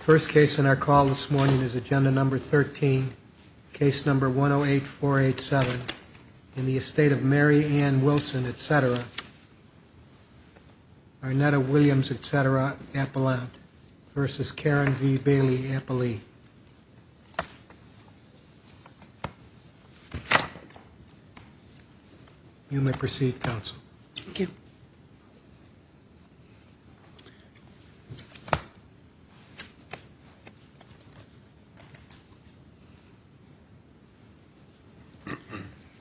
First case in our call this morning is agenda number 13 case number 108487 in the Estate of Mary Ann Wilson, etc. Arnetta Williams, etc. Appellant versus Karen V. Bailey Appellee. You may proceed counsel. Thank you.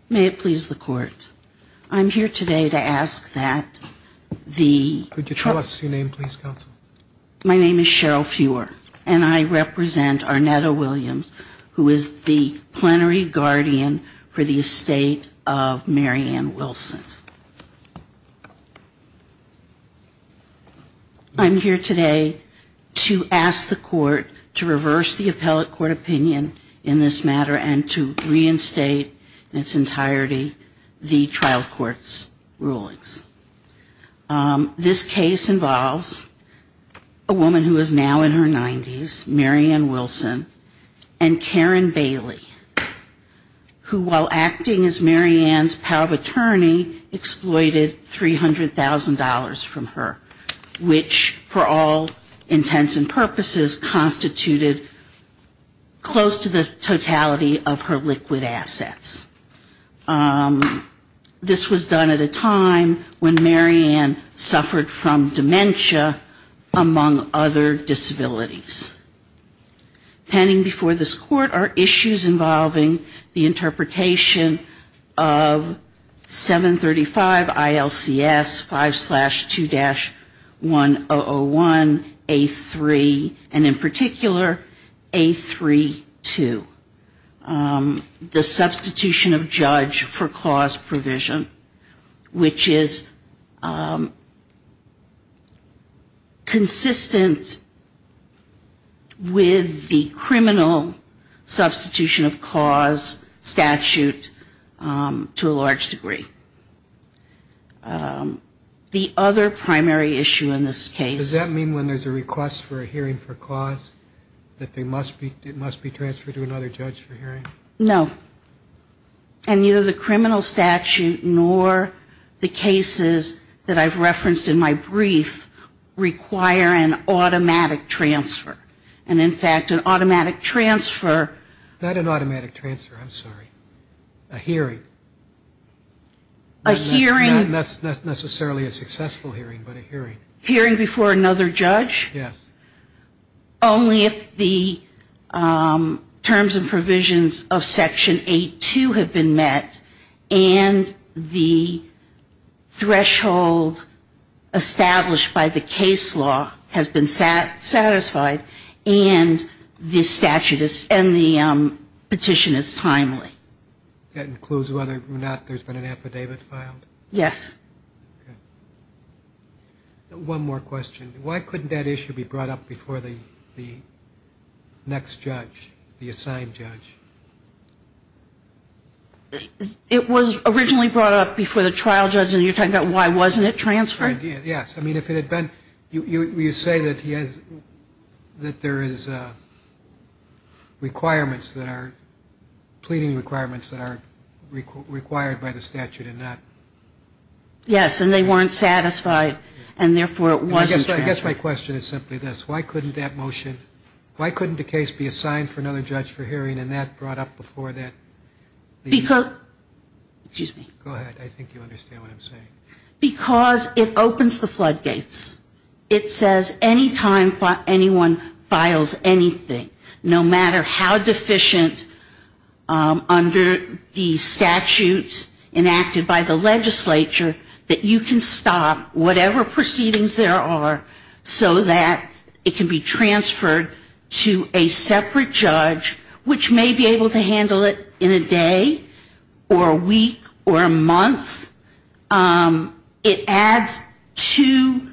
May it please the court. I'm here today to ask that the. Could you tell us your name please counsel. My name is Cheryl fewer and I represent Arnetta Williams, who is the plenary guardian for the Estate of Mary Ann Wilson. I'm here today to ask the court to reverse the appellate court opinion in this matter and to reinstate its entirety. The trial courts rulings. This case involves a woman who is now in her 90s, Mary Ann Wilson and Karen Bailey. Who, while acting as Mary Ann's power of attorney, exploited $300,000 from her, which for all intents and purposes, was constituted close to the totality of her liquid assets. This was done at a time when Mary Ann suffered from dementia, among other disabilities. Pending before this court are issues involving the interpretation of 735 ILCS 5 slash 2 dash. The substitution of judge for cause provision, which is consistent with the criminal substitution of cause statute to a large degree. The other primary issue in this case. Does that mean when there's a request for a hearing for cause that they must be, it must be transferred to another judge for hearing? No. And neither the criminal statute nor the cases that I've referenced in my brief require an automatic transfer. And in fact, an automatic transfer. Not an automatic transfer, I'm sorry. A hearing. A hearing. Not necessarily a successful hearing, but a hearing. Hearing before another judge? Yes. Only if the terms and provisions of section 8-2 have been met. And the threshold established by the case law has been satisfied. And the petition is timely. That includes whether or not there's been an affidavit filed? Yes. One more question. Why couldn't that issue be brought up before the next judge, the assigned judge? It was originally brought up before the trial judge, and you're talking about why wasn't it transferred? Yes. I mean, if it had been, you say that he has, that there is requirements that are, pleading requirements that are required by the statute and not. Yes, and they weren't satisfied, and therefore it wasn't transferred. I guess my question is simply this. Why couldn't that motion, why couldn't the case be assigned for another judge for hearing and that brought up before that? Because, excuse me. Go ahead. I think you understand what I'm saying. Because it opens the floodgates. It says any time anyone files anything, no matter how deficient under the statutes enacted by the legislature, that you can stop whatever proceedings there are so that it can be transferred to a separate judge, which may be able to handle it in a day or a week or a month. It adds to,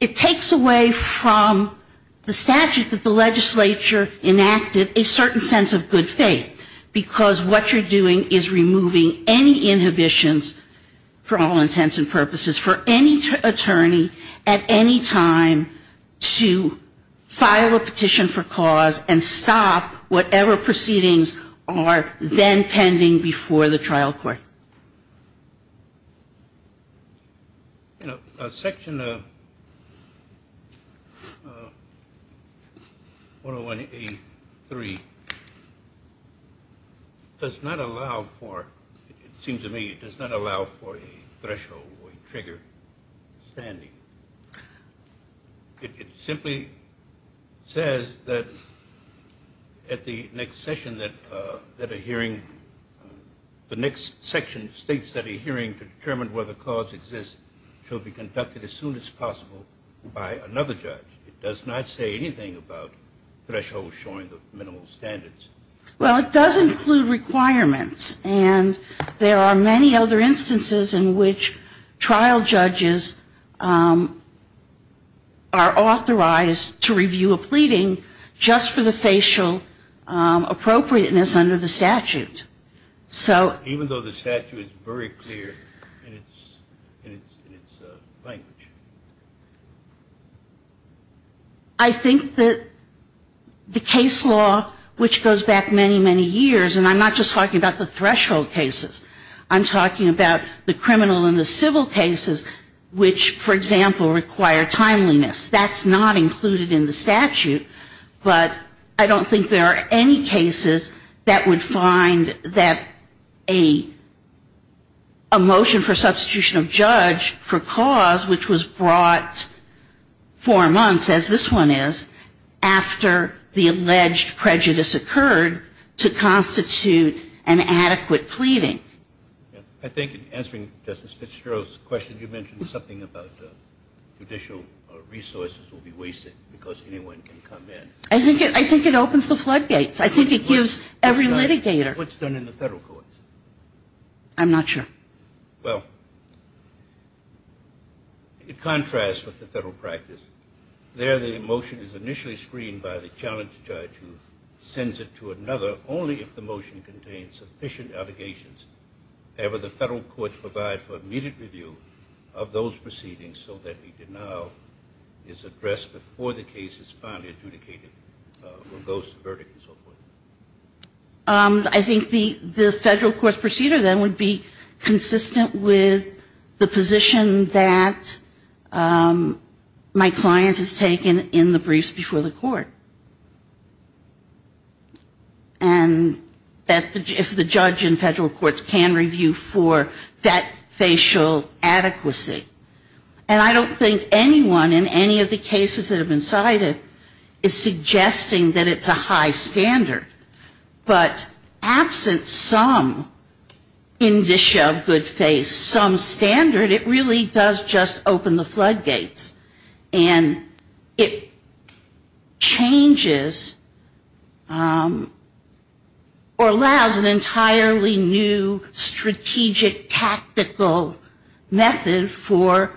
it takes away from the statute that the legislature enacted a certain sense of good faith. Because what you're doing is removing any inhibitions, for all intents and purposes, for any attorney at any time to file a petition for cause and stop whatever proceedings are then pending before the trial court. You know, Section 101A.3 does not allow for, it seems to me, it does not allow for a threshold or a trigger standing. It simply says that at the next session that a hearing, the next section states that a hearing to determine whether cause exists shall be conducted as soon as possible by another judge. It does not say anything about thresholds showing the minimal standards. Well, it does include requirements. And there are many other instances in which trial judges are authorized to review a pleading just for the facial appropriateness under the statute. Even though the statute is very clear in its language. I think that the case law, which goes back many, many years, and I'm not just talking about the threshold cases. I'm talking about the criminal and the civil cases, which, for example, require timeliness. That's not included in the statute. But I don't think there are any cases that would find that a motion for substitution of judge for cause, which was brought four months, as this one is, after the alleged prejudice occurred, to constitute an adequate pleading. I think in answering Justice Fitzgerald's question, you mentioned something about judicial resources will be wasted because anyone can come in. I think it opens the floodgates. I think it gives every litigator. What's done in the federal courts? I'm not sure. Well, it contrasts with the federal practice. There the motion is initially screened by the challenge judge who sends it to another only if the motion contains sufficient allegations. However, the federal courts provide for immediate review of those proceedings so that the denial is addressed before the case is finally adjudicated or goes to verdict and so forth. I think the federal court's procedure then would be consistent with the position that my client has taken in the briefs before the court. And that if the judge in federal courts can review for that facial adequacy. And I don't think anyone in any of the cases that have been cited is suggesting that it's a high standard. But absent some indicia of good faith, some standard, it really does just open the floodgates. And it changes or allows an entirely new strategic tactical method for.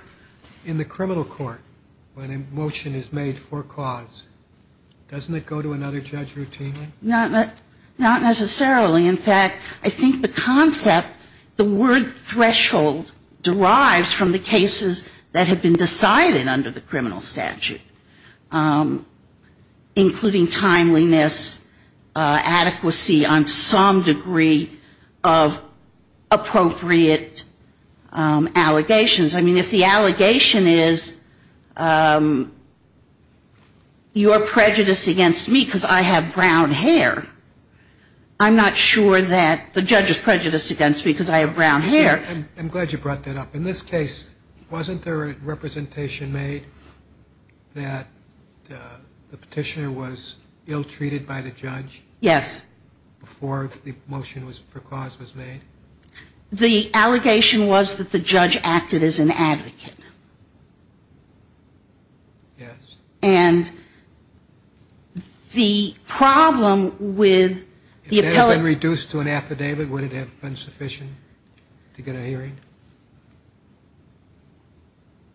In the criminal court, when a motion is made for cause, doesn't it go to another judge routinely? Not necessarily. In fact, I think the concept, the word threshold derives from the cases that have been decided under the criminal statute. Including timeliness, adequacy on some degree of appropriate allegations. I mean, if the allegation is, you are prejudiced against me because I have brown hair, I'm not sure that that's the case. I'm not sure that the judge is prejudiced against me because I have brown hair. I'm glad you brought that up. In this case, wasn't there a representation made that the petitioner was ill treated by the judge? Yes. Before the motion for cause was made? The allegation was that the judge acted as an advocate. Yes. And the problem with the appellate... If that had been reduced to an affidavit, would it have been sufficient to get a hearing?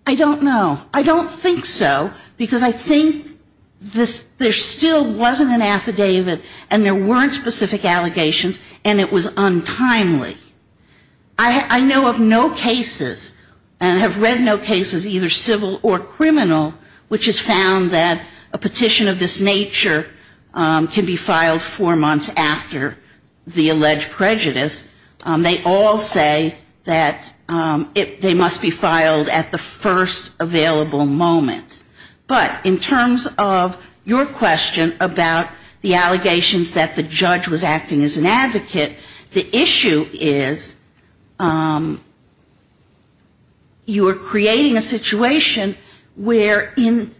I don't know. I don't think so, because I think there still wasn't an affidavit and there weren't specific allegations and it was untimely. I know of no cases and have read no cases, either civil or criminal, which has found that a petition of this nature can be filed four months after the alleged prejudice. They all say that they must be filed at the first available moment. But in terms of your question about the allegations that the judge was acting as an advocate, the issue is, you are creating a situation where in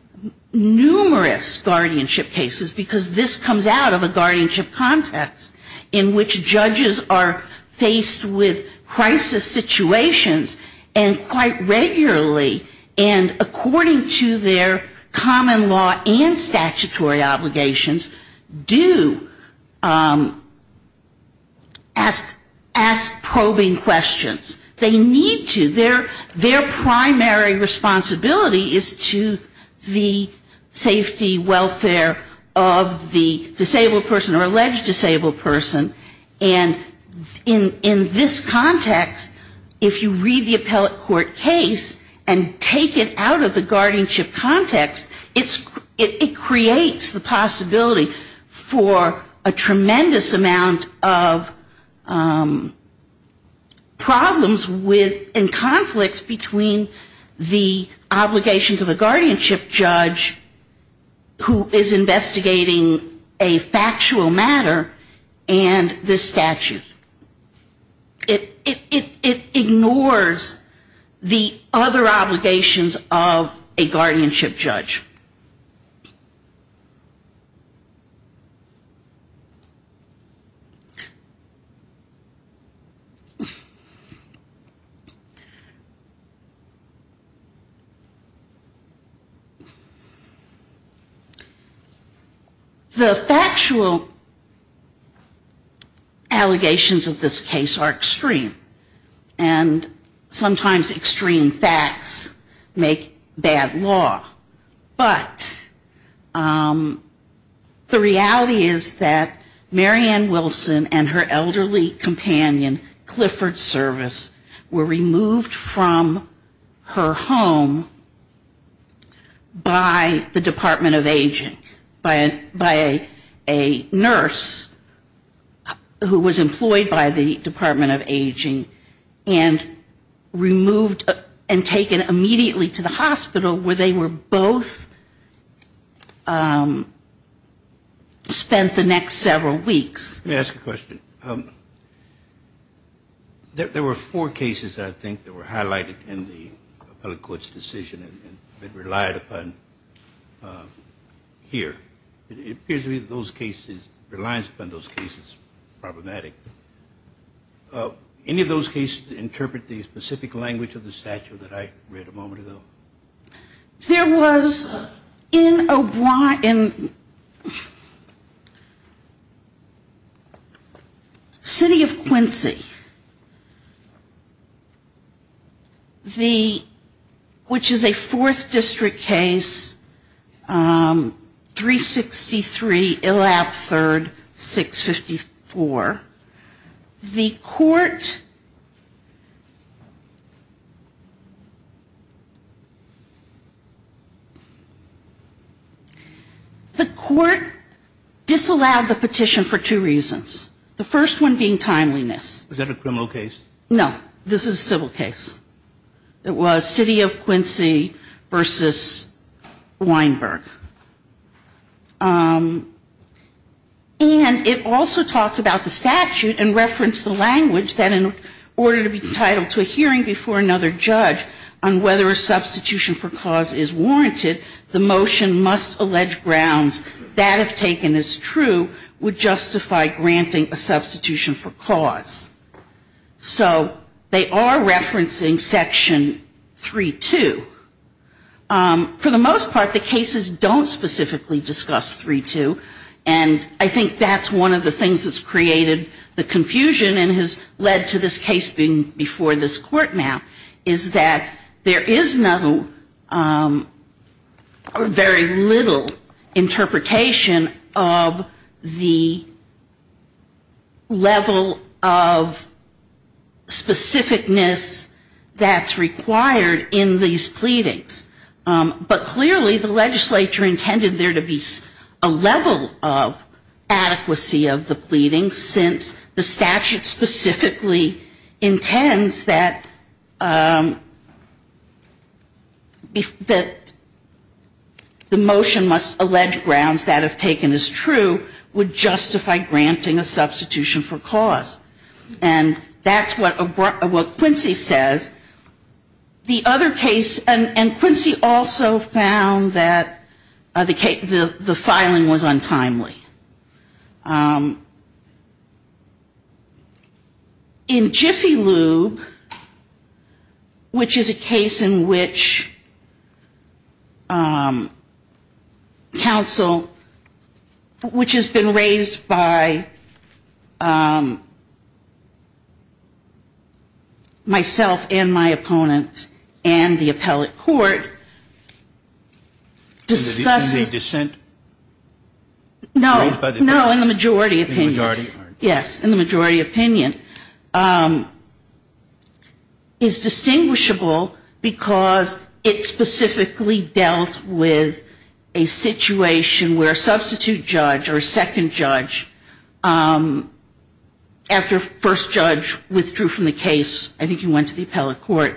numerous guardianship cases, because this comes out of a guardianship context, in which judges are faced with crisis situations, and quite regularly, and according to their common law and statutory obligations, do ask for probing questions. They need to. Their primary responsibility is to the safety, welfare of the disabled person or alleged disabled person. And in this context, if you read the appellate court case and take it out of the guardianship context, it creates the possibility for a problem and conflicts between the obligations of a guardianship judge who is investigating a factual matter and this statute. It ignores the other obligations of a guardianship judge. The factual allegations of this case are extreme. And sometimes extreme facts make bad law. But the reality is that Mary Ann Wilson and her elderly companion, Clifford Service, were removed from her home by the Department of Aging, by a nurse who was employed by the Department of Aging, and removed and taken immediately to the hospital where they were both spent the next several weeks. There were four cases, I think, that were highlighted in the appellate court's decision and relied upon here. It appears to me that those cases, reliance upon those cases, problematic. Any of those cases interpret the specific language of the statute that I read a moment ago? There was in Obron, in City of Quincy, the, which is a fourth district case, 363 Illab 3rd, 654. The court disallowed the petition for two reasons. The first one being timeliness. Is that a criminal case? No. This is a civil case. It was City of Quincy v. Weinberg. And it also talked about the statute and referenced the language that in order to be entitled to a hearing before another judge on whether a substitution for cause is warranted, the motion must allege grounds that, if taken as true, would justify granting a substitution for cause. So they are referencing Section 3.2. For the most part, the cases don't specifically discuss 3.2, and I think that's one of the things that's created the confusion and has led to this case being before this court now, is that there is no or very little interpretation of the level of specificness that's required in these pleadings. But clearly, the legislature intended there to be a level of adequacy of the pleadings, since the statute specifically intends that the motion must allege grounds that, if taken as true, would justify granting a substitution for cause. And that's what Quincy says. The other case, and Quincy also found that the filing was untimely. In Jiffy Lube, which is a case in which counsel, which has been raised by myself and other lawyers, which is a case in which I and my opponent and the appellate court discussed... Sotomayor in the dissent? No, no, in the majority opinion. Yes, in the majority opinion. It's distinguishable because it specifically dealt with a situation where a substitute judge or a second judge, after first judge withdrew from the case, I think he went to the appellate court,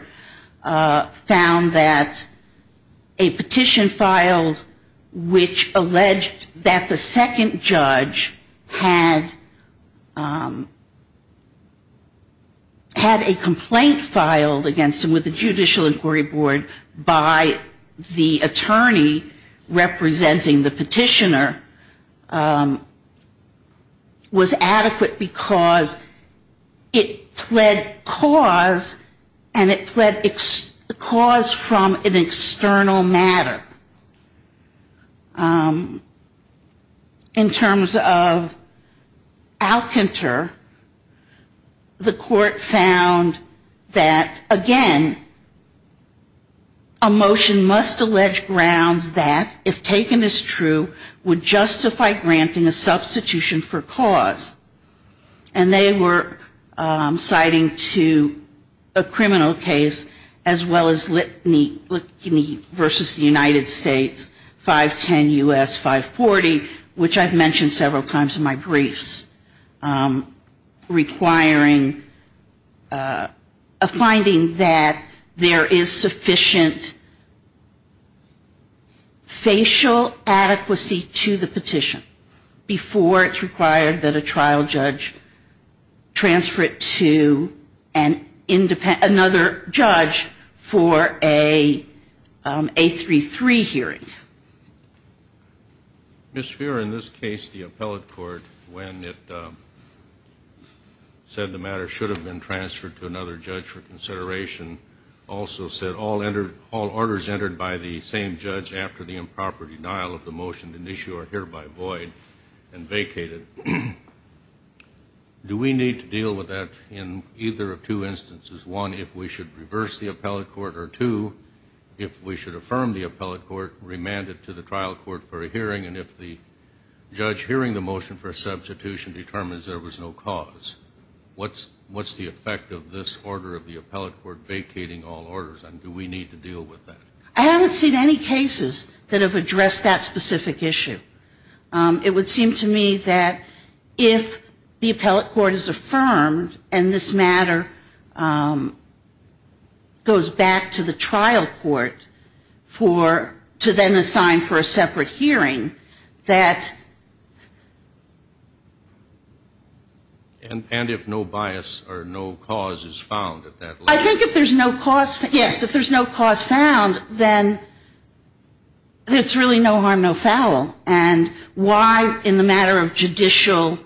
found that a petition filed, which alleged that the second judge had a complaint filed against him with the Judicial Inquiry Board by the attorney representing the petitioner, was adequate because it fled cause and it fled cause from an external matter. In terms of Alcanter, the court found that, again, a motion must allege grounds that, if taken as true, would justify granting a substitution for cause. And they were citing to a criminal case as well as Litany v. United States, 510 U.S. 540, which I've mentioned several times in my briefs, requiring a finding that there is sufficient facial adequacy to the petition before it's required that a trial be held. And that the trial judge transfer it to another judge for a A33 hearing. Ms. Feer, in this case, the appellate court, when it said the matter should have been transferred to another judge for consideration, also said, all orders entered by the same judge after the improper denial of the motion to issue are hereby void and do we need to deal with that in either of two instances? One, if we should reverse the appellate court, or two, if we should affirm the appellate court, remand it to the trial court for a hearing, and if the judge hearing the motion for substitution determines there was no cause, what's the effect of this order of the appellate court vacating all orders, and do we need to deal with that? I haven't seen any cases that have addressed that specific issue. It would seem to me that if the appellate court is affirmed, and this matter goes back to the trial court for, to then assign for a separate hearing, that... And if no bias or no cause is found at that level? I think if there's no cause, yes, if there's no cause found, then it's really no harm, no foul. And why, in the matter of judicial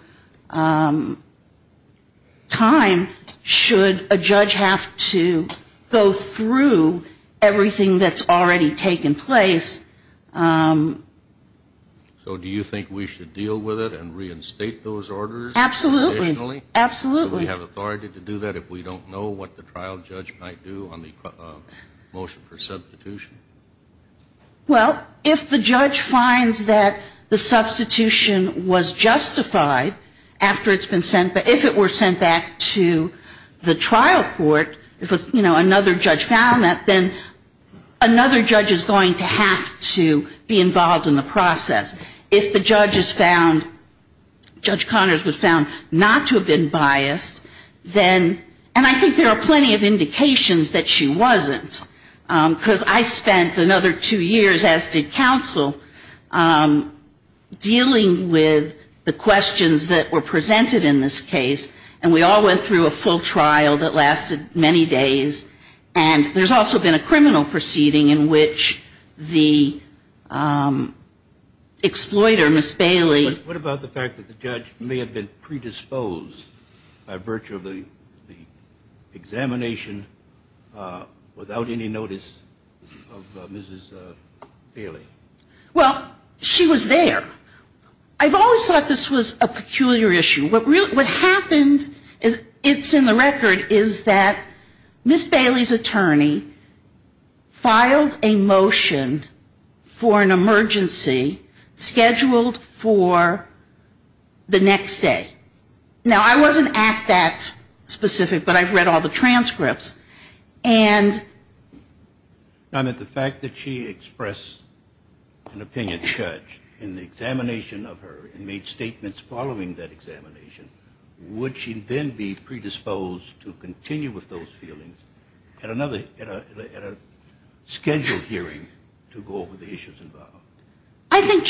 time, should a judge have to go through everything that's already taken place? So do you think we should deal with it and reinstate those orders? Absolutely. Do we have authority to do that if we don't know what the trial judge might do on the motion for substitution? Well, if the judge finds that the substitution was justified after it's been sent back, if it were sent back to the trial court, if another judge found that, then another judge is going to have to be involved in the process. If the judge is found, Judge Connors was found not to have been biased, then, and I think there are plenty of indications that she wasn't, because I spent another two years, as did counsel, dealing with the questions that were presented in this case. And we all went through a full trial that lasted many days. And there's also been a criminal proceeding in which the exploiter, Ms. Bailey. What about the fact that the judge may have been predisposed by virtue of the examination without any notice of Mrs. Bailey? Well, she was there. I've always thought this was a peculiar issue. What happened, it's in the record, is that Ms. Bailey's attorney filed a motion for an emergency scheduled for the next day. Now, I wasn't at that specific, but I've read all the transcripts. And... ...and I think that's the issue. I mean, I don't think the judge was predisposed to continue with those feelings at a scheduled hearing to go over the issues involved. Do you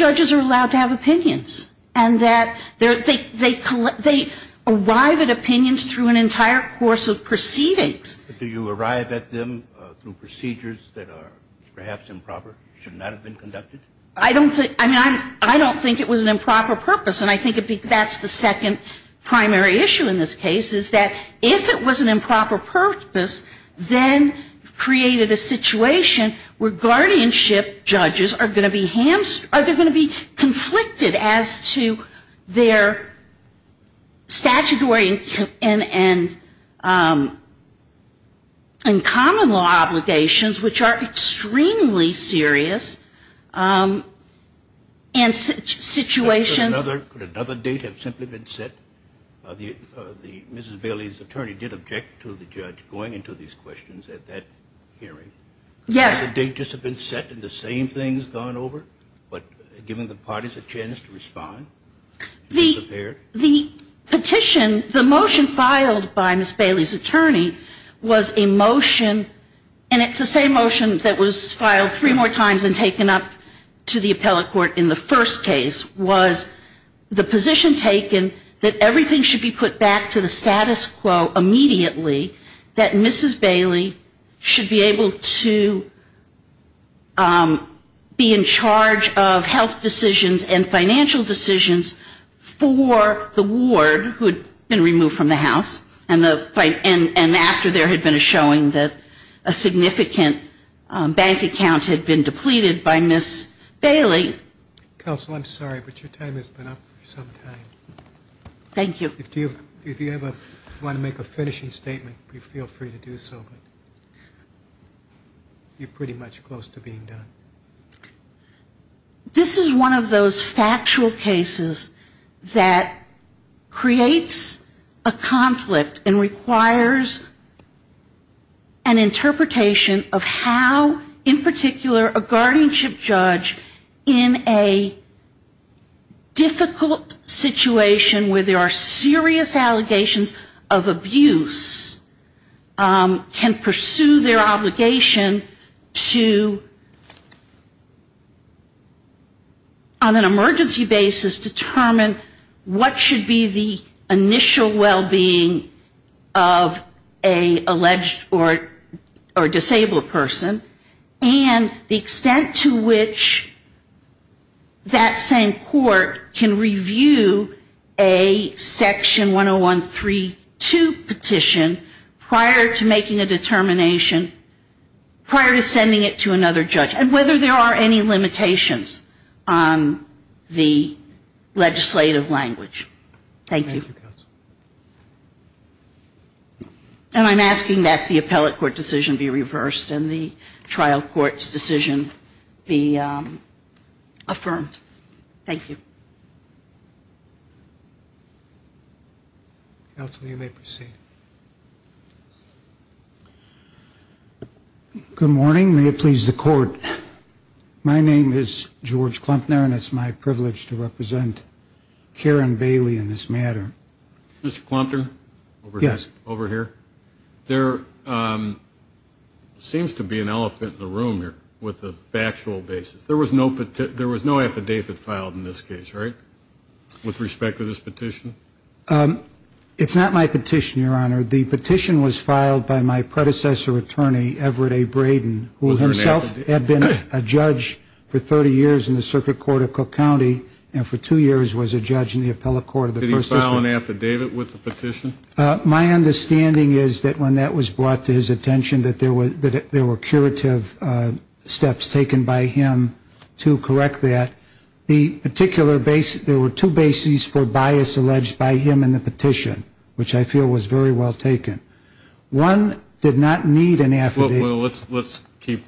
arrive at them through procedures that are perhaps improper, should not have been conducted? I don't think it was an improper purpose. And I think that's the second part of the question. I think the primary issue in this case is that if it was an improper purpose, then created a situation where guardianship judges are going to be hamstrung, are they going to be conflicted as to their statutory and common law obligations, which are extremely serious. And situations... Could another date have simply been set? Mrs. Bailey's attorney did object to the judge going into these questions at that hearing. Yes. Could another date just have been set and the same thing has gone over, but given the parties a chance to respond? The petition, the motion filed by Mrs. Bailey's attorney was a motion, and it's the same motion that was filed three more times and taken up to the appellate court in the first case, was the position taken that everything should be put back to the status quo immediately, that Mrs. Bailey should be able to be in charge of health decisions and financial decisions for the ward who had been removed from the house, and after there had been a showing that a significant bank account had been depleted by Mrs. Bailey. Counsel, I'm sorry, but your time has been up for some time. Thank you. If you ever want to make a finishing statement, feel free to do so, but you're pretty much close to being done. This is one of those factual cases that creates a conflict and requires an interpretation of how, in particular, a guardianship judge in a difficult situation where there are serious allegations of abuse, can pursue their obligation to, on an emergency basis, determine what should be the initial well-being of an alleged or disabled person, and the extent to which that same court can review the allegations of abuse and be able to do a section 101.3.2 petition prior to making a determination, prior to sending it to another judge, and whether there are any limitations on the legislative language. Thank you. And I'm asking that the appellate court decision be reversed and the trial court's decision be affirmed. Counsel, you may proceed. Good morning. May it please the court. My name is George Klumpner, and it's my privilege to represent Karen Bailey in this matter. Mr. Klumpner? Yes. There seems to be an elephant in the room here with the factual basis. There was no affidavit filed in this case, right, with respect to this petition? It's not my petition, Your Honor. The petition was filed by my predecessor attorney, Everett A. Braden, who himself had been a judge for 30 years in the circuit court of Cook County, and for two years he had been a judge in the circuit court of Cook County. I'm not sure if that's correct. My understanding is that when that was brought to his attention, that there were curative steps taken by him to correct that. The particular basis, there were two bases for bias alleged by him in the petition, which I feel was very well taken. One did not need an affidavit. Well, let's keep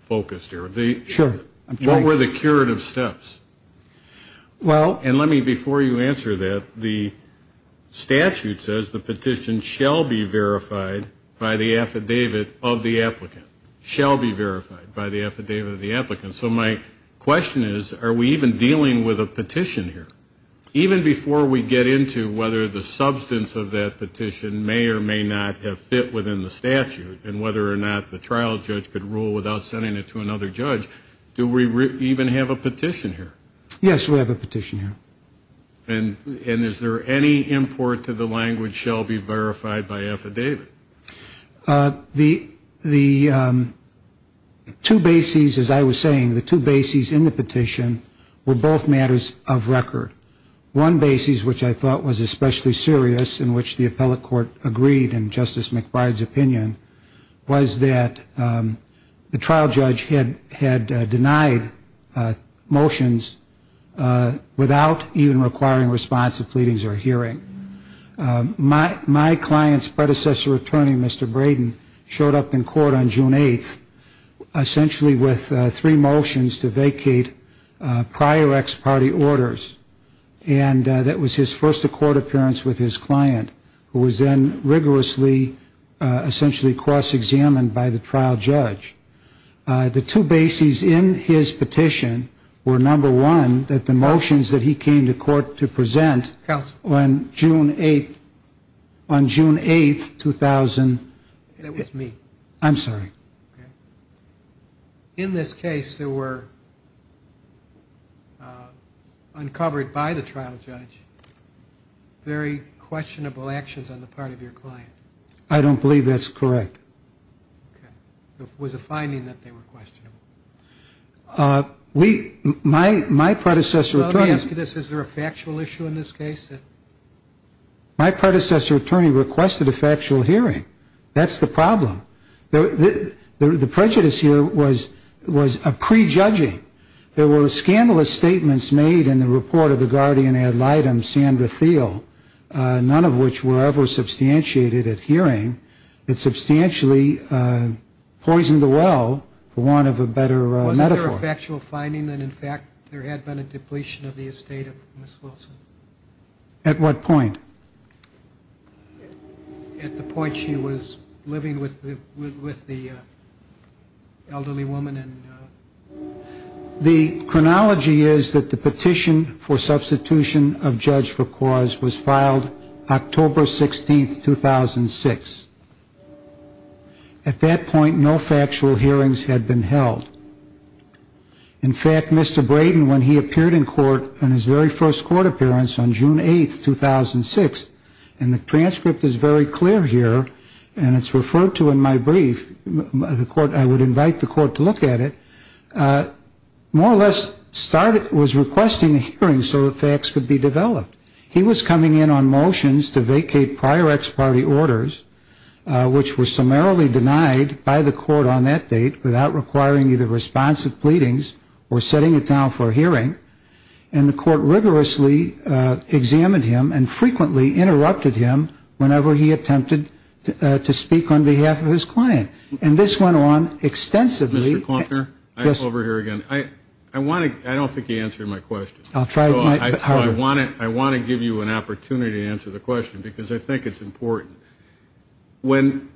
focused here. What were the curative steps? And let me, before you answer that, the statute says the petition shall be verified by the affidavit of the applicant. Shall be verified by the affidavit of the applicant. So my question is, are we even dealing with a petition here? Even before we get into whether the substance of that petition may or may not have fit within the statute, and whether or not the trial judge could rule without sending it to another judge, do we even have a petition here? Yes, we have a petition here. And is there any import to the language shall be verified by affidavit? The two bases, as I was saying, the two bases in the petition were both matters of record. One basis, which I thought was especially serious, in which the appellate court agreed in Justice McBride's opinion, was that the trial judge had denied motions without even requiring response to pleadings or hearing. My client's predecessor attorney, Mr. Braden, showed up in court on June 8th, essentially with three motions to vacate prior ex-party orders. And that was his first court appearance with his client, who was then rigorously, essentially cross-examined by the trial judge. The two bases in his petition were, number one, that the motions that he came to court to present, when he came to court to present, on June 8th, 2000... That was me. I'm sorry. In this case, there were, uncovered by the trial judge, very questionable actions on the part of your client. I don't believe that's correct. It was a finding that they were questionable. Let me ask you this. Is there a factual issue in this case? My predecessor attorney requested a factual hearing. That's the problem. The prejudice here was a prejudging. There were scandalous statements made in the report of the guardian ad litem, Sandra Thiel, none of which were ever substantiated at hearing. It substantially poisoned the well for want of a better metaphor. Was there a factual finding that, in fact, there had been a depletion of the estate of Ms. Wilson? At what point? At the point she was living with the elderly woman and... The chronology is that the petition for substitution of judge for cause was filed October 16th, 2006. At that point, no factual hearings had been held. In fact, Mr. Braden, when he appeared in court on his very first court appearance on June 8th, 2006, and the transcript is very clear here, and it's referred to in my brief, I would invite the court to look at it, more or less was requesting a hearing so the facts could be developed. He was coming in on motions to vacate prior ex parte orders, which were summarily denied by the court on that date without requiring either responsive pleadings or setting it down for a hearing. And the court rigorously examined him and frequently interrupted him whenever he attempted to speak on behalf of his client. And this went on extensively... I don't think you answered my question. I want to give you an opportunity to answer the question, because I think it's important. When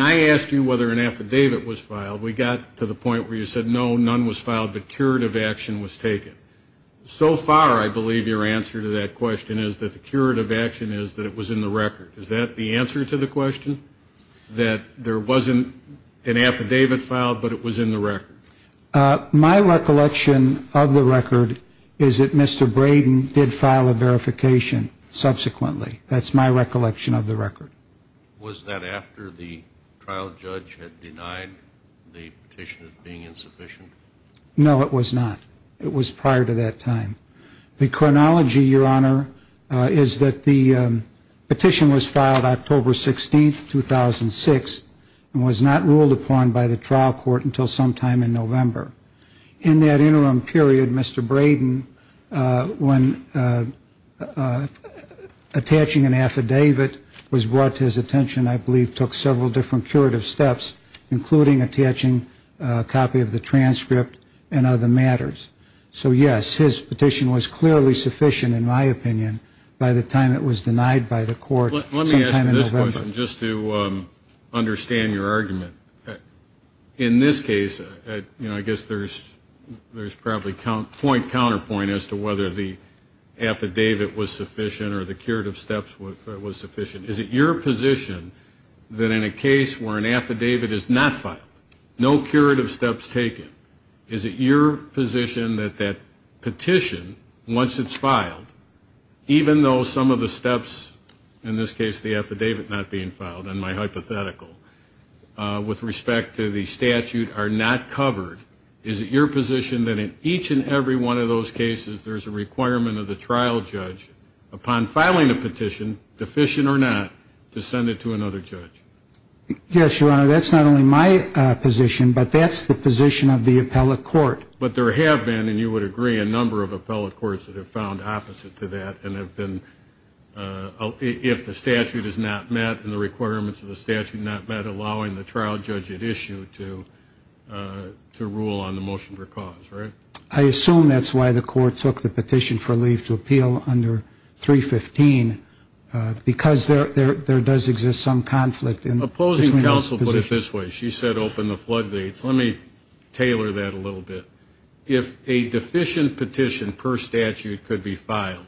I asked you whether an affidavit was filed, we got to the point where you said, no, none was filed, but curative action was taken. So far, I believe your answer to that question is that the curative action is that it was in the record. Is that the answer to the question, that there wasn't an affidavit filed, but it was in the record? My recollection of the record is that Mr. Braden did file a verification subsequently. That's my recollection of the record. Was that after the trial judge had denied the petition as being insufficient? No, it was not. It was prior to that time. The chronology, Your Honor, is that the petition was filed October 16, 2006, and was not ruled upon by the trial court until sometime in November. In that interim period, Mr. Braden, when attaching an affidavit was brought to his attention, I believe took several different curative steps, including attaching a copy of the transcript and other matters. So, yes, his petition was clearly sufficient, in my opinion, by the time it was denied by the court sometime in November. Let me ask you this question, just to understand your argument. In this case, I guess there's probably point-counterpoint as to whether the affidavit was sufficient or the curative steps was sufficient. Is it your position that in a case where an affidavit is not filed, no curative steps taken, is it your position that that petition, once it's filed, even though some of the steps, in this case the affidavit not being filed, in my hypothetical, with respect to the statute are not covered, is it your position that in each and every one of those cases there's a requirement of the trial judge, upon filing a petition, deficient or not, to send it to another judge? Yes, Your Honor, that's not only my position, but that's the position of the appellate court. But there have been, and you would agree, a number of appellate courts that have found opposite to that and have been, if the statute is not met and the requirements of the statute not met, allowing the trial judge at issue to rule on the motion for cause, right? I assume that's why the court took the petition for leave to appeal under 315, because there does exist some conflict between those positions. Opposing counsel put it this way. She said open the floodgates. Let me tailor that a little bit. If a deficient petition per statute could be filed,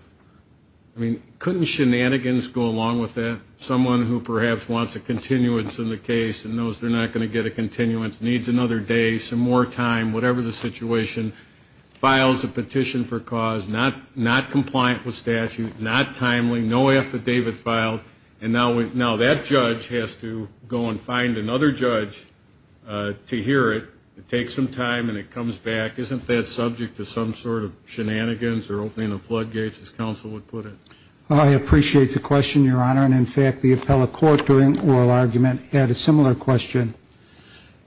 I mean, couldn't shenanigans go along with that? Someone who perhaps wants a continuance in the case and knows they're not going to get a continuance, needs another day, some more time, whatever the situation, files a petition for cause, not compliant with statute, not timely, no affidavit filed, and now that judge has to go and find another judge to hear it. It takes some time and it comes back. Isn't that subject to some sort of shenanigans or opening of floodgates, as counsel would put it? I appreciate the question, Your Honor, and in fact, the appellate court during oral argument had a similar question.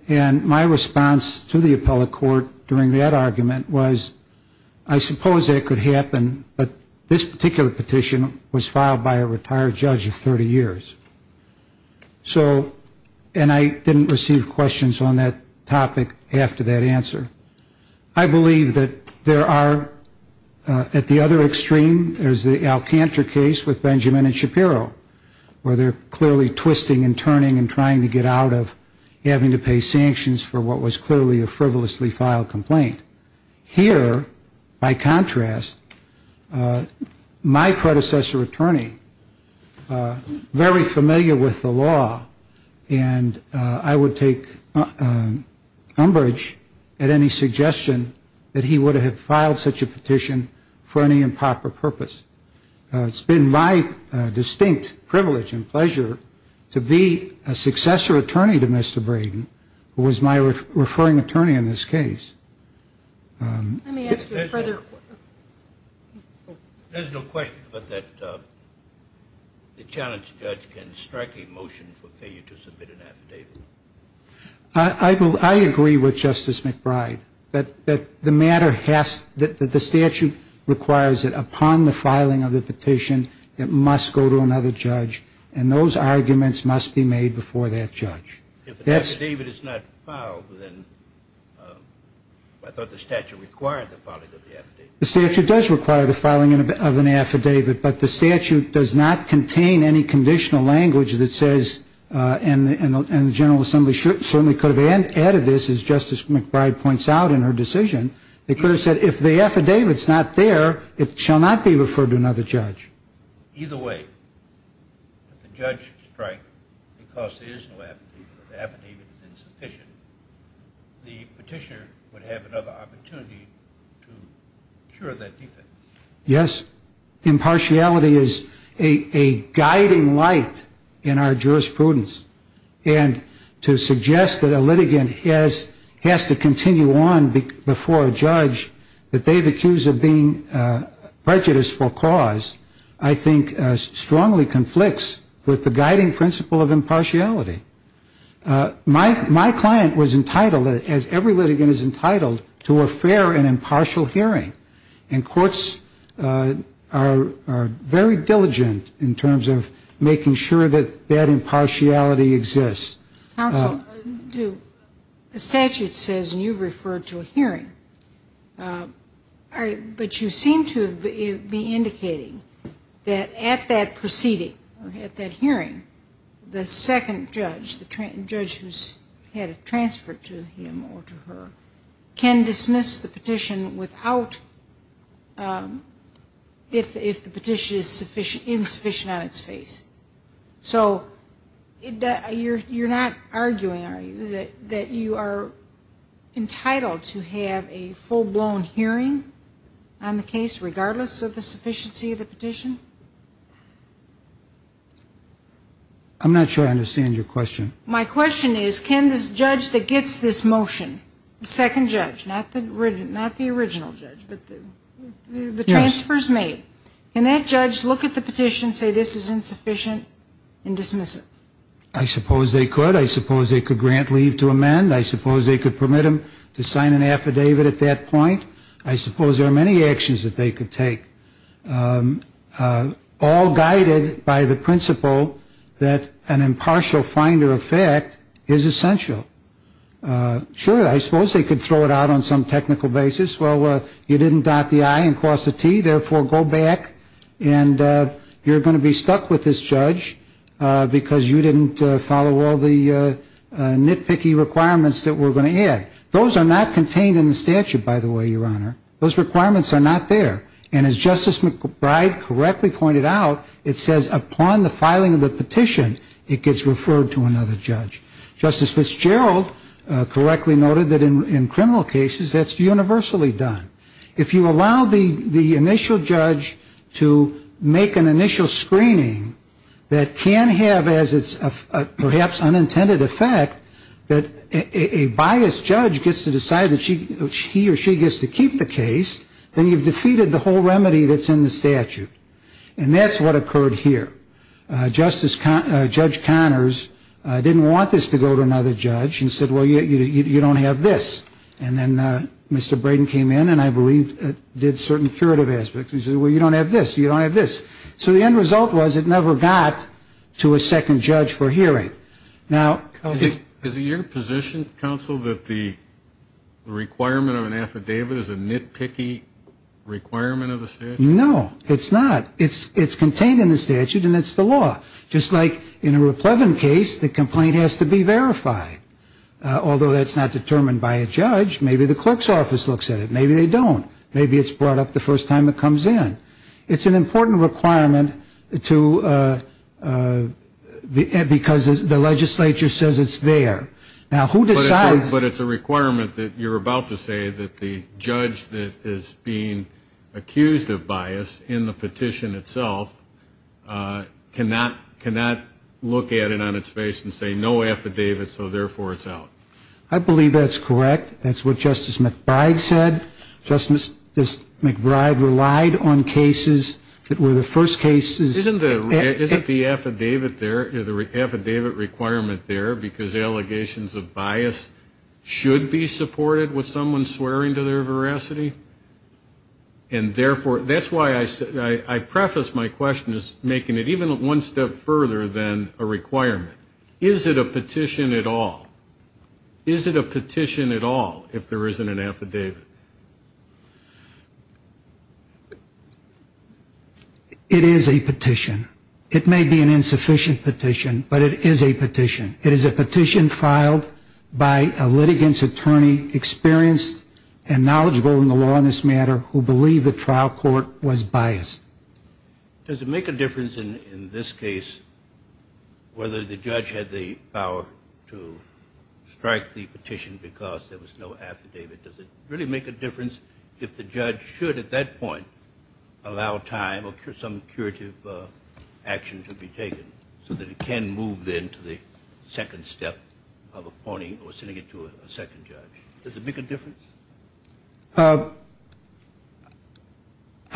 And my response to the appellate court during that argument was, I suppose that could happen, but this particular petition was filed by a retired judge of 30 years. So, and I didn't receive questions on that topic after that answer. I believe that there are, at the other extreme, there's the Alcantara case with Benjamin and Shapiro, where they're clearly twisting and turning and trying to get out of having to pay sanctions for what was clearly a frivolously filed complaint. Here, by contrast, my predecessor attorney, very familiar with the law, and I would take umbrage at any suggestion that he would have filed such a petition for any improper purpose. It's been my distinct privilege and pleasure to be a successor attorney to Mr. Braden, who was my referring attorney in this case. Let me ask you a further question. There's no question but that the challenge judge can strike a motion for failure to submit an affidavit. I agree with Justice McBride, that the matter has, that the statute requires that upon the filing of the petition, it must go to another judge, and those arguments must be made before that judge. If an affidavit is not filed, then I thought the statute required the filing of the affidavit. The statute does require the filing of an affidavit, but the statute does not contain any conditional language that says, and the General Assembly certainly could have added this, as Justice McBride points out in her decision, they could have said if the affidavit's not there, it shall not be referred to another judge. Either way, if the judge strikes, because there is no affidavit, or the affidavit is insufficient, the petitioner would have another opportunity to cure that defense. Yes, impartiality is a guiding light in our jurisprudence, and to suggest that a litigant has to continue on before a judge, that they've accused of being prejudiced for cause, I think strongly conflicts with the guiding principle of impartiality. My client was entitled, as every litigant is entitled, to a fair and impartial hearing, and courts are very diligent in terms of making sure that that impartiality exists. Counsel, the statute says, and you've referred to a hearing, but you seem to be indicating that at that proceeding, at that hearing, the second judge, the judge who's had it transferred to him or to her, can dismiss the petition without, if the petition is insufficient on its face. So you're not arguing, are you, that you are entitled to have a full-blown hearing on the case, regardless of the sufficiency of the petition? I'm not sure I understand your question. My question is, can this judge that gets this motion, the second judge, not the original judge, but the transfers made, can that judge look at the petition, say this is insufficient, and dismiss it? I suppose they could. I suppose they could grant leave to amend. I suppose they could permit him to sign an affidavit at that point. I suppose there are many actions that they could take, all guided by the principle that an impartial finder of fact is essential. Sure, I suppose they could throw it out on some technical basis. Well, you didn't dot the I and cross the T, therefore, go back, and you're going to be stuck with this judge, because you didn't follow all the nitpicky requirements that we're going to add. Those are not contained in the statute, by the way, Your Honor. Those requirements are not there. And as Justice McBride correctly pointed out, it says upon the filing of the petition, it gets referred to another judge. Justice Fitzgerald correctly noted that in criminal cases, that's universally done. If you allow the initial judge to make an initial screening, that can have as its perhaps unintended effect, that a biased judge gets to decide that he or she gets to keep the case, then you've defeated the whole remedy that's in the statute. And that's what occurred here. Judge Connors didn't want this to go to another judge and said, well, you don't have this. And then Mr. Braden came in and I believe did certain curative aspects. He said, well, you don't have this, you don't have this. So the end result was it never got to a second judge for hearing. Is it your position, counsel, that the requirement of an affidavit is a nitpicky requirement of the statute? No, it's not. It's contained in the statute and it's the law. Just like in a raplevin case, the complaint has to be verified. Although that's not determined by a judge, maybe the clerk's office looks at it. Maybe they don't. Maybe it's brought up the first time it comes in. It's an important requirement because the legislature says it's there. Now, who decides? But it's a requirement that you're about to say that the judge that is being accused of bias in the petition itself cannot look at it on its face and say no affidavit, so therefore it's out. I believe that's correct. That's what Justice McBride said. Justice McBride relied on cases that were the first cases. Isn't the affidavit there, the affidavit requirement there because allegations of bias should be supported with someone swearing to their veracity? And therefore, that's why I preface my question as making it even one step further than a requirement. Is it a petition at all? Is it a petition at all if there isn't an affidavit? It is a petition. It may be an insufficient petition, but it is a petition. It is a petition filed by a litigant's attorney experienced and knowledgeable in the law on this matter who believed the trial court was biased. Does it make a difference in this case whether the judge had the power to strike the petition because there was no affidavit? Does it really make a difference if the judge should at that point allow time or some curative action to be taken so that it can move then to the second step of appointing or sending it to a second judge? Does it make a difference? Your Honor,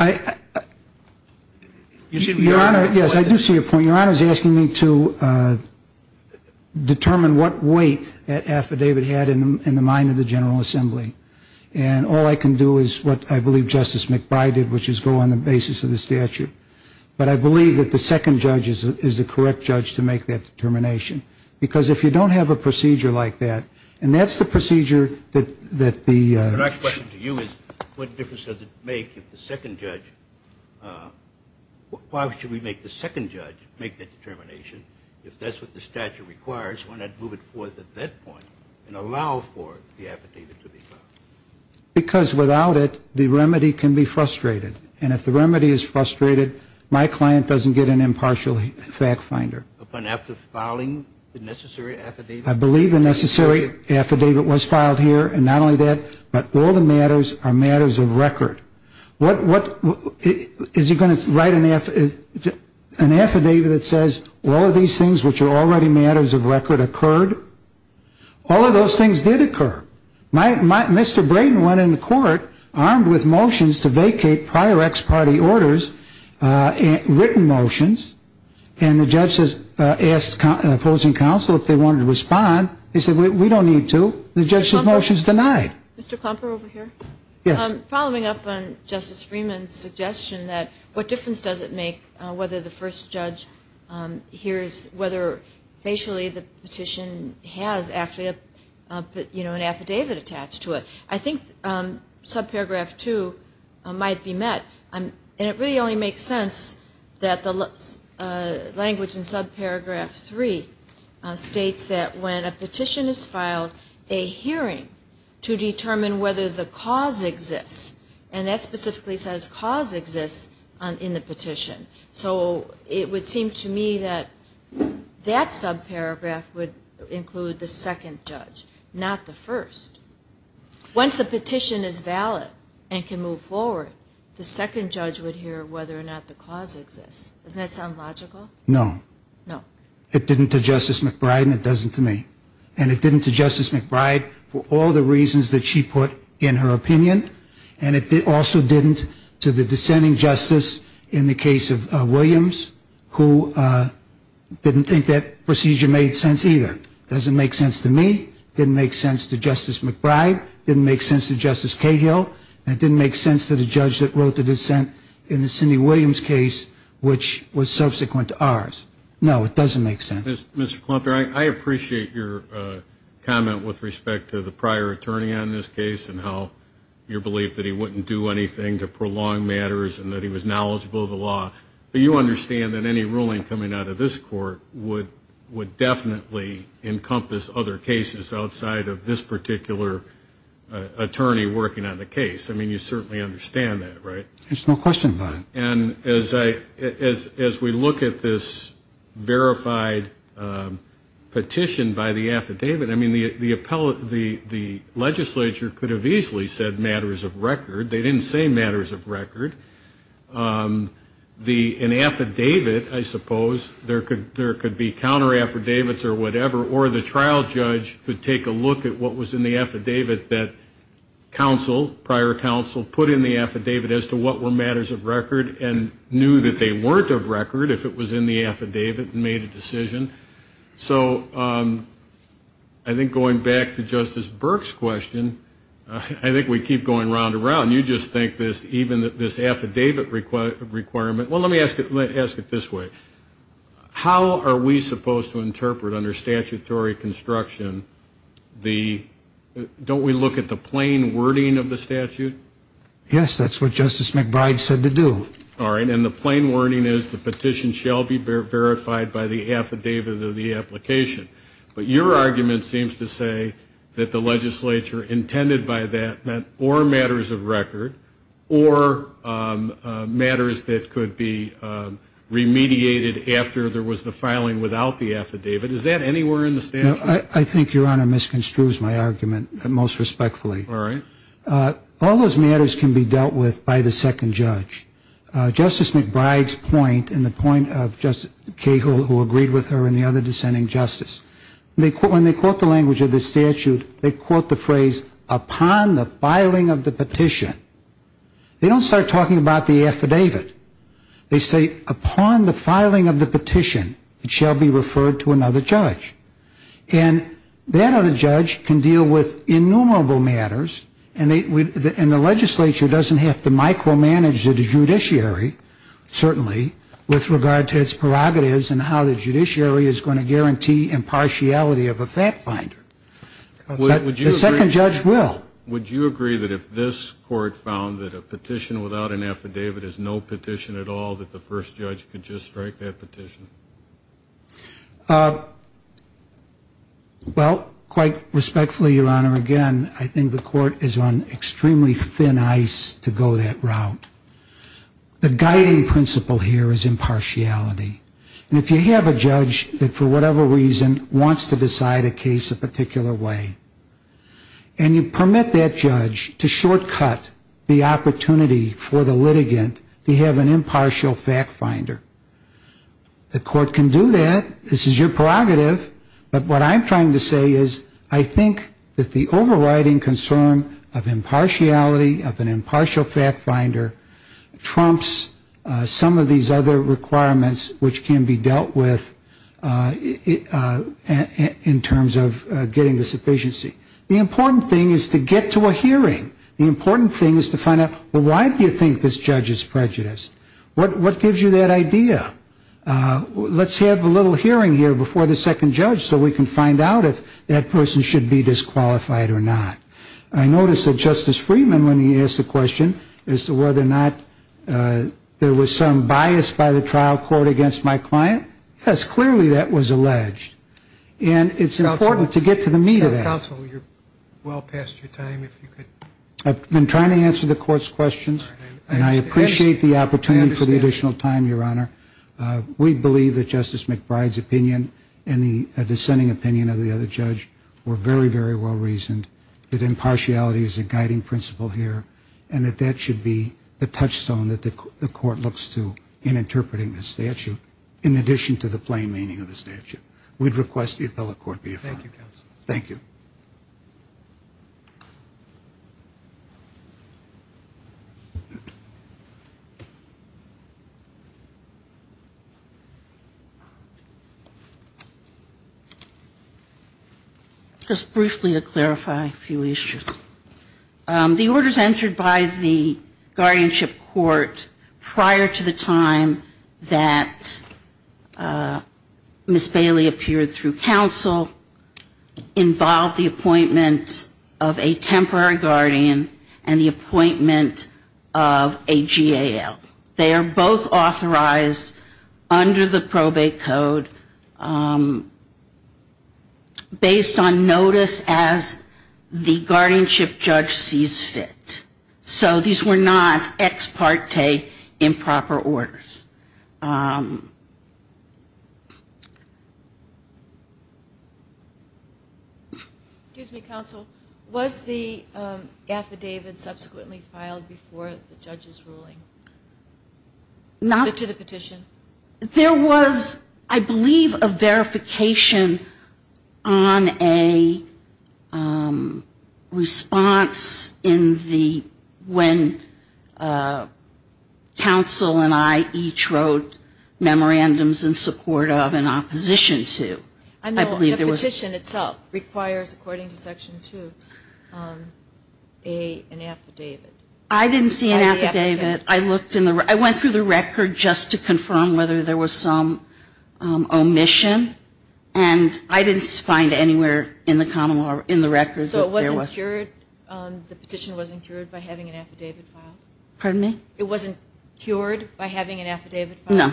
yes, I do see your point. Your Honor is asking me to determine what weight that affidavit had in the mind of the General Assembly. And all I can do is what I believe Justice McBride did, which is go on the basis of the statute. But I believe that the second judge is the correct judge to make that determination. Because if you don't have a procedure like that, and that's the procedure that the... My question to you is what difference does it make if the second judge, why should we make the second judge make that determination if that's what the statute requires? Why not move it forth at that point and allow for the affidavit to be filed? Because without it, the remedy can be frustrated. And if the remedy is frustrated, my client doesn't get an impartial fact finder. I believe the necessary affidavit was filed here. And not only that, but all the matters are matters of record. Is he going to write an affidavit that says, all of these things which are already matters of record occurred? All of those things did occur. Mr. Brayden went into court armed with motions to vacate prior ex parte orders, written motions, and the judges asked opposing counsel if they wanted to respond. They said, we don't need to. The judge's motion is denied. Mr. Klumper over here. Yes. Following up on Justice Freeman's suggestion that what difference does it make whether the first judge hears, whether facially the petition has actually an affidavit attached to it? I think subparagraph two might be met. And it really only makes sense that the language in subparagraph three states that when a petition is filed, a hearing to determine whether the cause exists. So it would seem to me that that subparagraph would include the second judge, not the first. Once the petition is valid and can move forward, the second judge would hear whether or not the cause exists. Doesn't that sound logical? No. It didn't to Justice McBride and it doesn't to me. And it didn't to Justice McBride for all the reasons that she put in her opinion. And it also didn't to the dissenting justice in the case of Williams who didn't think that procedure made sense either. Doesn't make sense to me. Didn't make sense to Justice McBride. Didn't make sense to Justice Cahill. And it didn't make sense to the judge that wrote the dissent in the Cindy Williams case which was subsequent to ours. No, it doesn't make sense. Mr. Klumper, I appreciate your comment with respect to the prior attorney on this case and how you believe that he wouldn't do anything to prolong matters and that he was knowledgeable of the law. But you understand that any ruling coming out of this court would definitely encompass other cases outside of this particular attorney working on the case. I mean, you certainly understand that, right? There's no question about it. And as we look at this verified petition by the affidavit, I mean, the legislature could have easily said matters of record. They didn't say matters of record. An affidavit, I suppose, there could be counter affidavits or whatever, or the trial judge could take a look at what was in the affidavit that counsel, prior counsel, put in the affidavit as to what were matters of record and knew that they weren't of record if it was in the affidavit and made a decision. So I think going back to Justice Burke's question, I think we keep going round and round. You just think this, even this affidavit requirement, well, let me ask it this way. How are we supposed to interpret under statutory construction the, don't we look at the plain wording of the statute? Yes, that's what Justice McBride said to do. All right, and the plain wording is the petition shall be verified by the affidavit of the application. But your argument seems to say that the legislature intended by that meant or matters of record or matters that could be remediated after there was the filing without the affidavit. Is that anywhere in the statute? No, I think, Your Honor, misconstrues my argument most respectfully. All those matters can be dealt with by the second judge. Justice McBride's point and the point of Justice Cahill who agreed with her and the other dissenting justice, when they quote the language of the statute, they quote the phrase upon the filing of the petition. They don't start talking about the affidavit. They say upon the filing of the petition, it shall be referred to another judge. And that other judge can deal with innumerable matters and the legislature doesn't have to micromanage the judiciary, certainly, with regard to its prerogatives and how the judiciary is going to guarantee impartiality of a fact finder. The second judge will. Would you agree that if this court found that a petition without an affidavit is no petition at all, that the first judge could just strike that petition? Well, quite respectfully, Your Honor, again, I think the court is on extremely thin ice to go that route. The guiding principle here is impartiality. And if you have a judge that for whatever reason wants to decide a case a particular way, and you permit that judge to shortcut the opportunity for the litigant to have an impartial fact finder, the court can do that, this is your prerogative. But what I'm trying to say is I think that the overriding concern of impartiality, of an impartial fact finder, trumps some of these other requirements which can be dealt with in terms of getting the sufficiency. The important thing is to get to a hearing. The important thing is to find out, well, why do you think this judge is prejudiced? What gives you that idea? Let's have a little hearing here before the second judge so we can find out if that person should be disqualified or not. I noticed that Justice Friedman, when he asked the question as to whether or not there was some bias by the trial court against my client, yes, clearly that was alleged. And it's important to get to the meat of that. I've been trying to answer the court's questions, and I appreciate the opportunity for the additional time, Your Honor. We believe that Justice McBride's opinion and the dissenting opinion of the other judge were very, very well reasoned, that impartiality is a guiding principle here, and that that should be the touchstone that the court looks to in interpreting the statute, in addition to the plain meaning of the statute. We'd request the appellate court be affirmed. Thank you. Just briefly to clarify a few issues. The orders entered by the guardianship court prior to the time that Ms. Bailey appeared through counsel involved the appointment of a temporary guardian and the appointment of a GAL. They are both authorized under the probate code, based on notice as the guardianship court has requested. And the guardianship judge sees fit. So these were not ex parte improper orders. Excuse me, counsel. Was the affidavit subsequently filed before the judge's ruling? To the petition? There was, I believe, a verification on a response in the when counsel and I each wrote memorandums in support of and opposition to. The petition itself requires, according to Section 2, an affidavit. I didn't see an affidavit. I went through the record just to confirm whether there was some omission, and I didn't find anywhere in the common law, in the records. So it wasn't cured? The petition wasn't cured by having an affidavit filed? Pardon me? The petition, it wasn't cured by having an affidavit filed?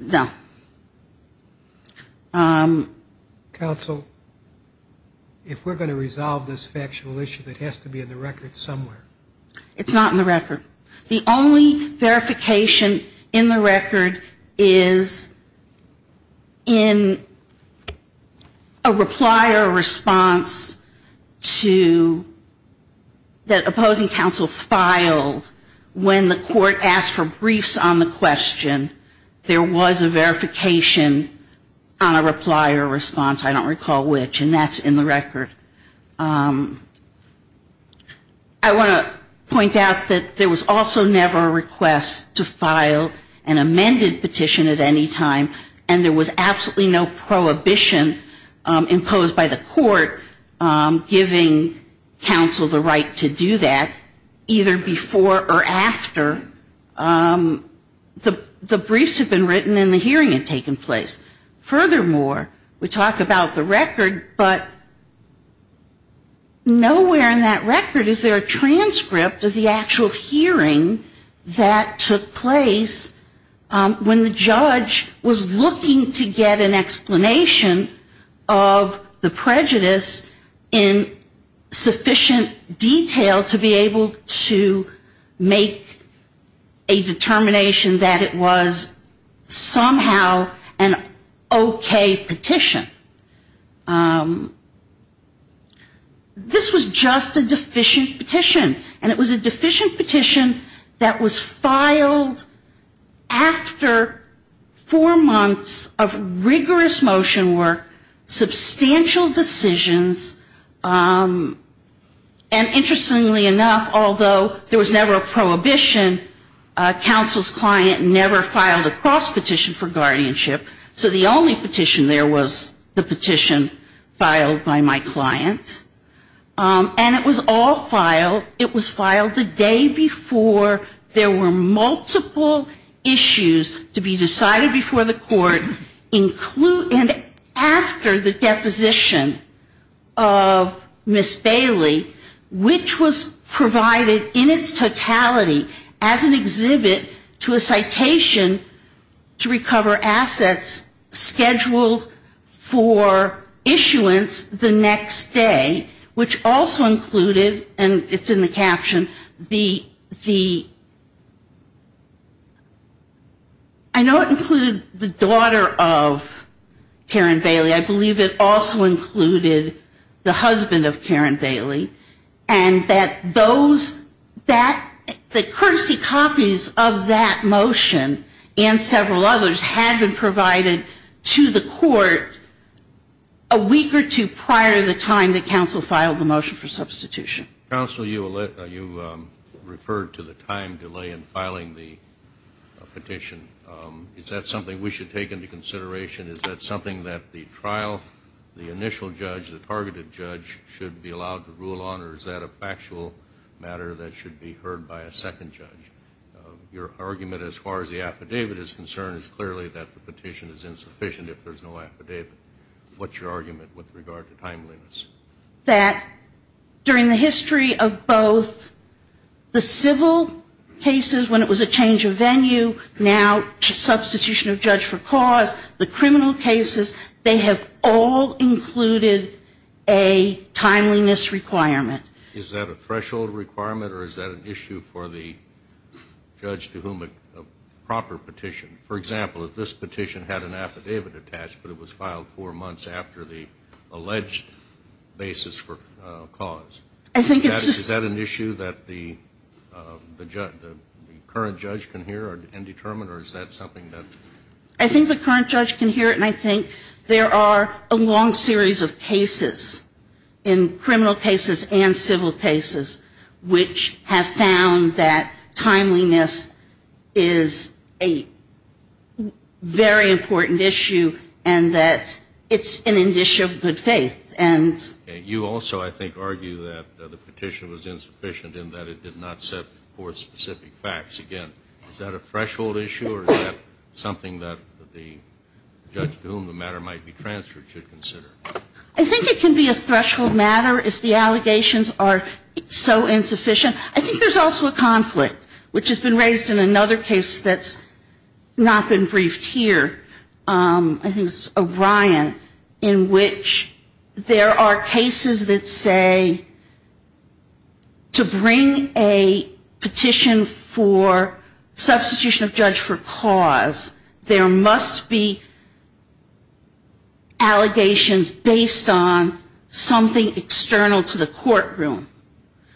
No. Counsel, if we're going to resolve this factual issue, it has to be in the record somewhere. It's not in the record. The only verification in the record is in a reply or a response to that opposing counsel filed when the court asked for briefs on the question. There was a verification on a reply or response. I don't recall which, and that's in the record. I want to point out that there was also never a request to file an amended petition at any time, and there was absolutely no prohibition imposed by the court giving counsel the right to do that, either before or after the briefs had been written and the hearing had taken place. Furthermore, we talk about the record, but nowhere in that record is there a transcript of the actual hearing that took place when the judge was looking to get an explanation of the prejudice in sufficient detail to be able to make a determination that it was somehow an okay petition. This was just a deficient petition, and it was a deficient petition that was filed after the hearing. There were four months of rigorous motion work, substantial decisions, and interestingly enough, although there was never a prohibition, counsel's client never filed a cross-petition for guardianship. So the only petition there was the petition filed by my client. And it was all filed. It was filed the day before there were multiple issues to be decided before the court, and after the deposition of Ms. Bailey, which was provided in its totality as an exhibit to a citation to recover assets scheduled for issuance the next day, which also included, and it's in the caption, the, I know it included the daughter of Karen Bailey. I believe it also included the husband of Karen Bailey, and that those, that the courtesy copies of that motion and several others had been provided to the court a week or two prior to the time that counsel filed the motion for substitution. Counsel, you referred to the time delay in filing the petition. Is that something we should take into consideration? Is that something that the trial, the initial judge, the targeted judge should be allowed to rule on? Or is that a factual matter that should be heard by a second judge? Your argument as far as the affidavit is concerned is clearly that the petition is insufficient if there's no affidavit. What's your argument with regard to timeliness? That during the history of both the civil cases when it was a change of venue, now substitution of judge for cause, the criminal cases, they have all included a timeliness requirement. Is that a threshold requirement, or is that an issue for the judge to whom a proper petition? For example, if this petition had an affidavit attached, but it was filed four months after the alleged basis for cause, is that an issue that the current judge can hear and determine, or is that something that? I think the current judge can hear it, and I think there are a long series of cases, in criminal cases and civil cases, which have found that timeliness is an issue. Very important issue, and that it's an issue of good faith. And you also, I think, argue that the petition was insufficient in that it did not set forth specific facts. Again, is that a threshold issue, or is that something that the judge to whom the matter might be transferred should consider? I think it can be a threshold matter if the allegations are so insufficient. I think there's also a conflict, which has been raised in another case that's not been briefed here. I think it's O'Brien, in which there are cases that say to bring a petition for substitution of judge for cause, there must be allegations based on something external to the courtroom,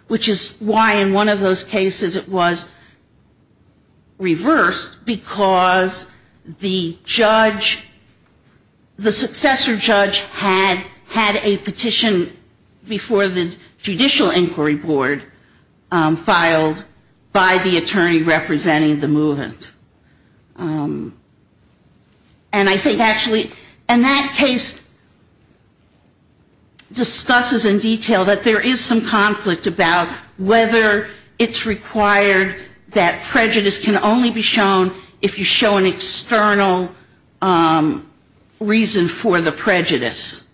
which is why in one of those cases it was reversed, because the judge, the successor judge, had a petition before the Judicial Inquiry Board filed by the attorney representing the movement. And I think actually, and that case discusses in detail that there is some conflict, about whether it's required that prejudice can only be shown if you show an external reason for the prejudice,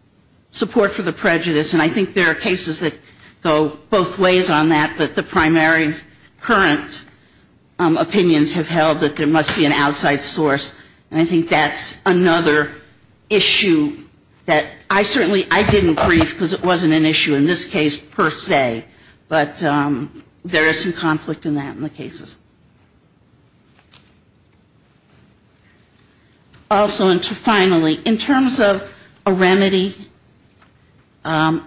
support for the prejudice, and I think there are cases that go both ways on that, that the primary current opinions have held that there must be an outside source, and I think that's another issue that I certainly, I didn't brief, because it wasn't an issue in this case, per se. But there is some conflict in that, in the cases. Also, and finally, in terms of a remedy,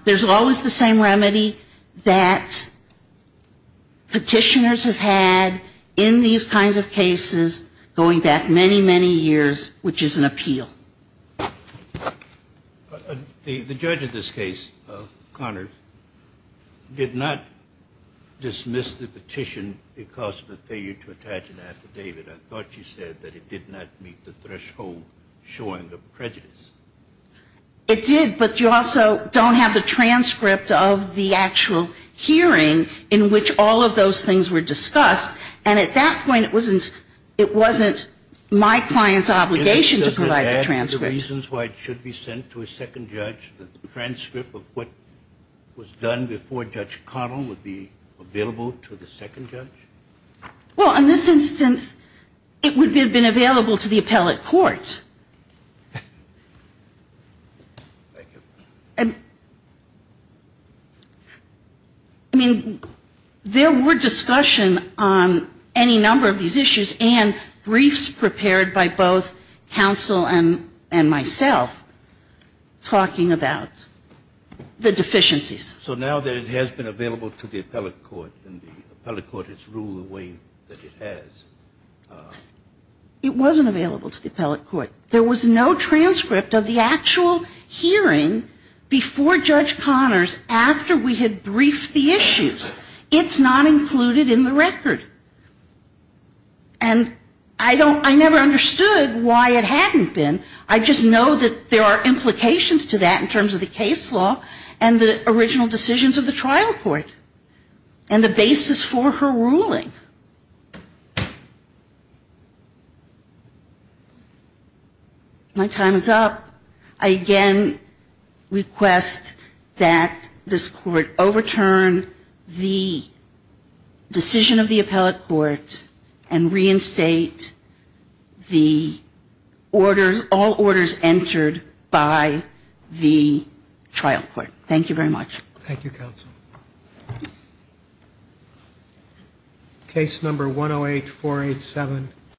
there's always the same remedy that petitioners have had in these kinds of cases, going back many, many years, which is an appeal. The judge in this case, Connors, did not dismiss the petition because of the failure to attach an affidavit. I thought she said that it did not meet the threshold showing of prejudice. It did, but you also don't have the transcript of the actual hearing in which all of those things were discussed, and at that point it wasn't my client's obligation to provide the transcript. Are there reasons why it should be sent to a second judge, that the transcript of what was done before Judge Connell would be available to the second judge? Well, in this instance, it would have been available to the appellate court. Thank you. I mean, there were discussion on any number of these issues, and briefs prepared by both counsel and attorney and myself talking about the deficiencies. So now that it has been available to the appellate court and the appellate court has ruled the way that it has. It wasn't available to the appellate court. There was no transcript of the actual hearing before Judge Connors after we had briefed the issues. It's not included in the record. And I don't, I never understood why it hadn't been. I just know that there are implications to that in terms of the case law and the original decisions of the trial court and the basis for her ruling. My time is up. I again request that this court overturn the decision of the appellate court and reinstate the orders, all orders entered by the trial court. Thank you very much. Thank you, counsel.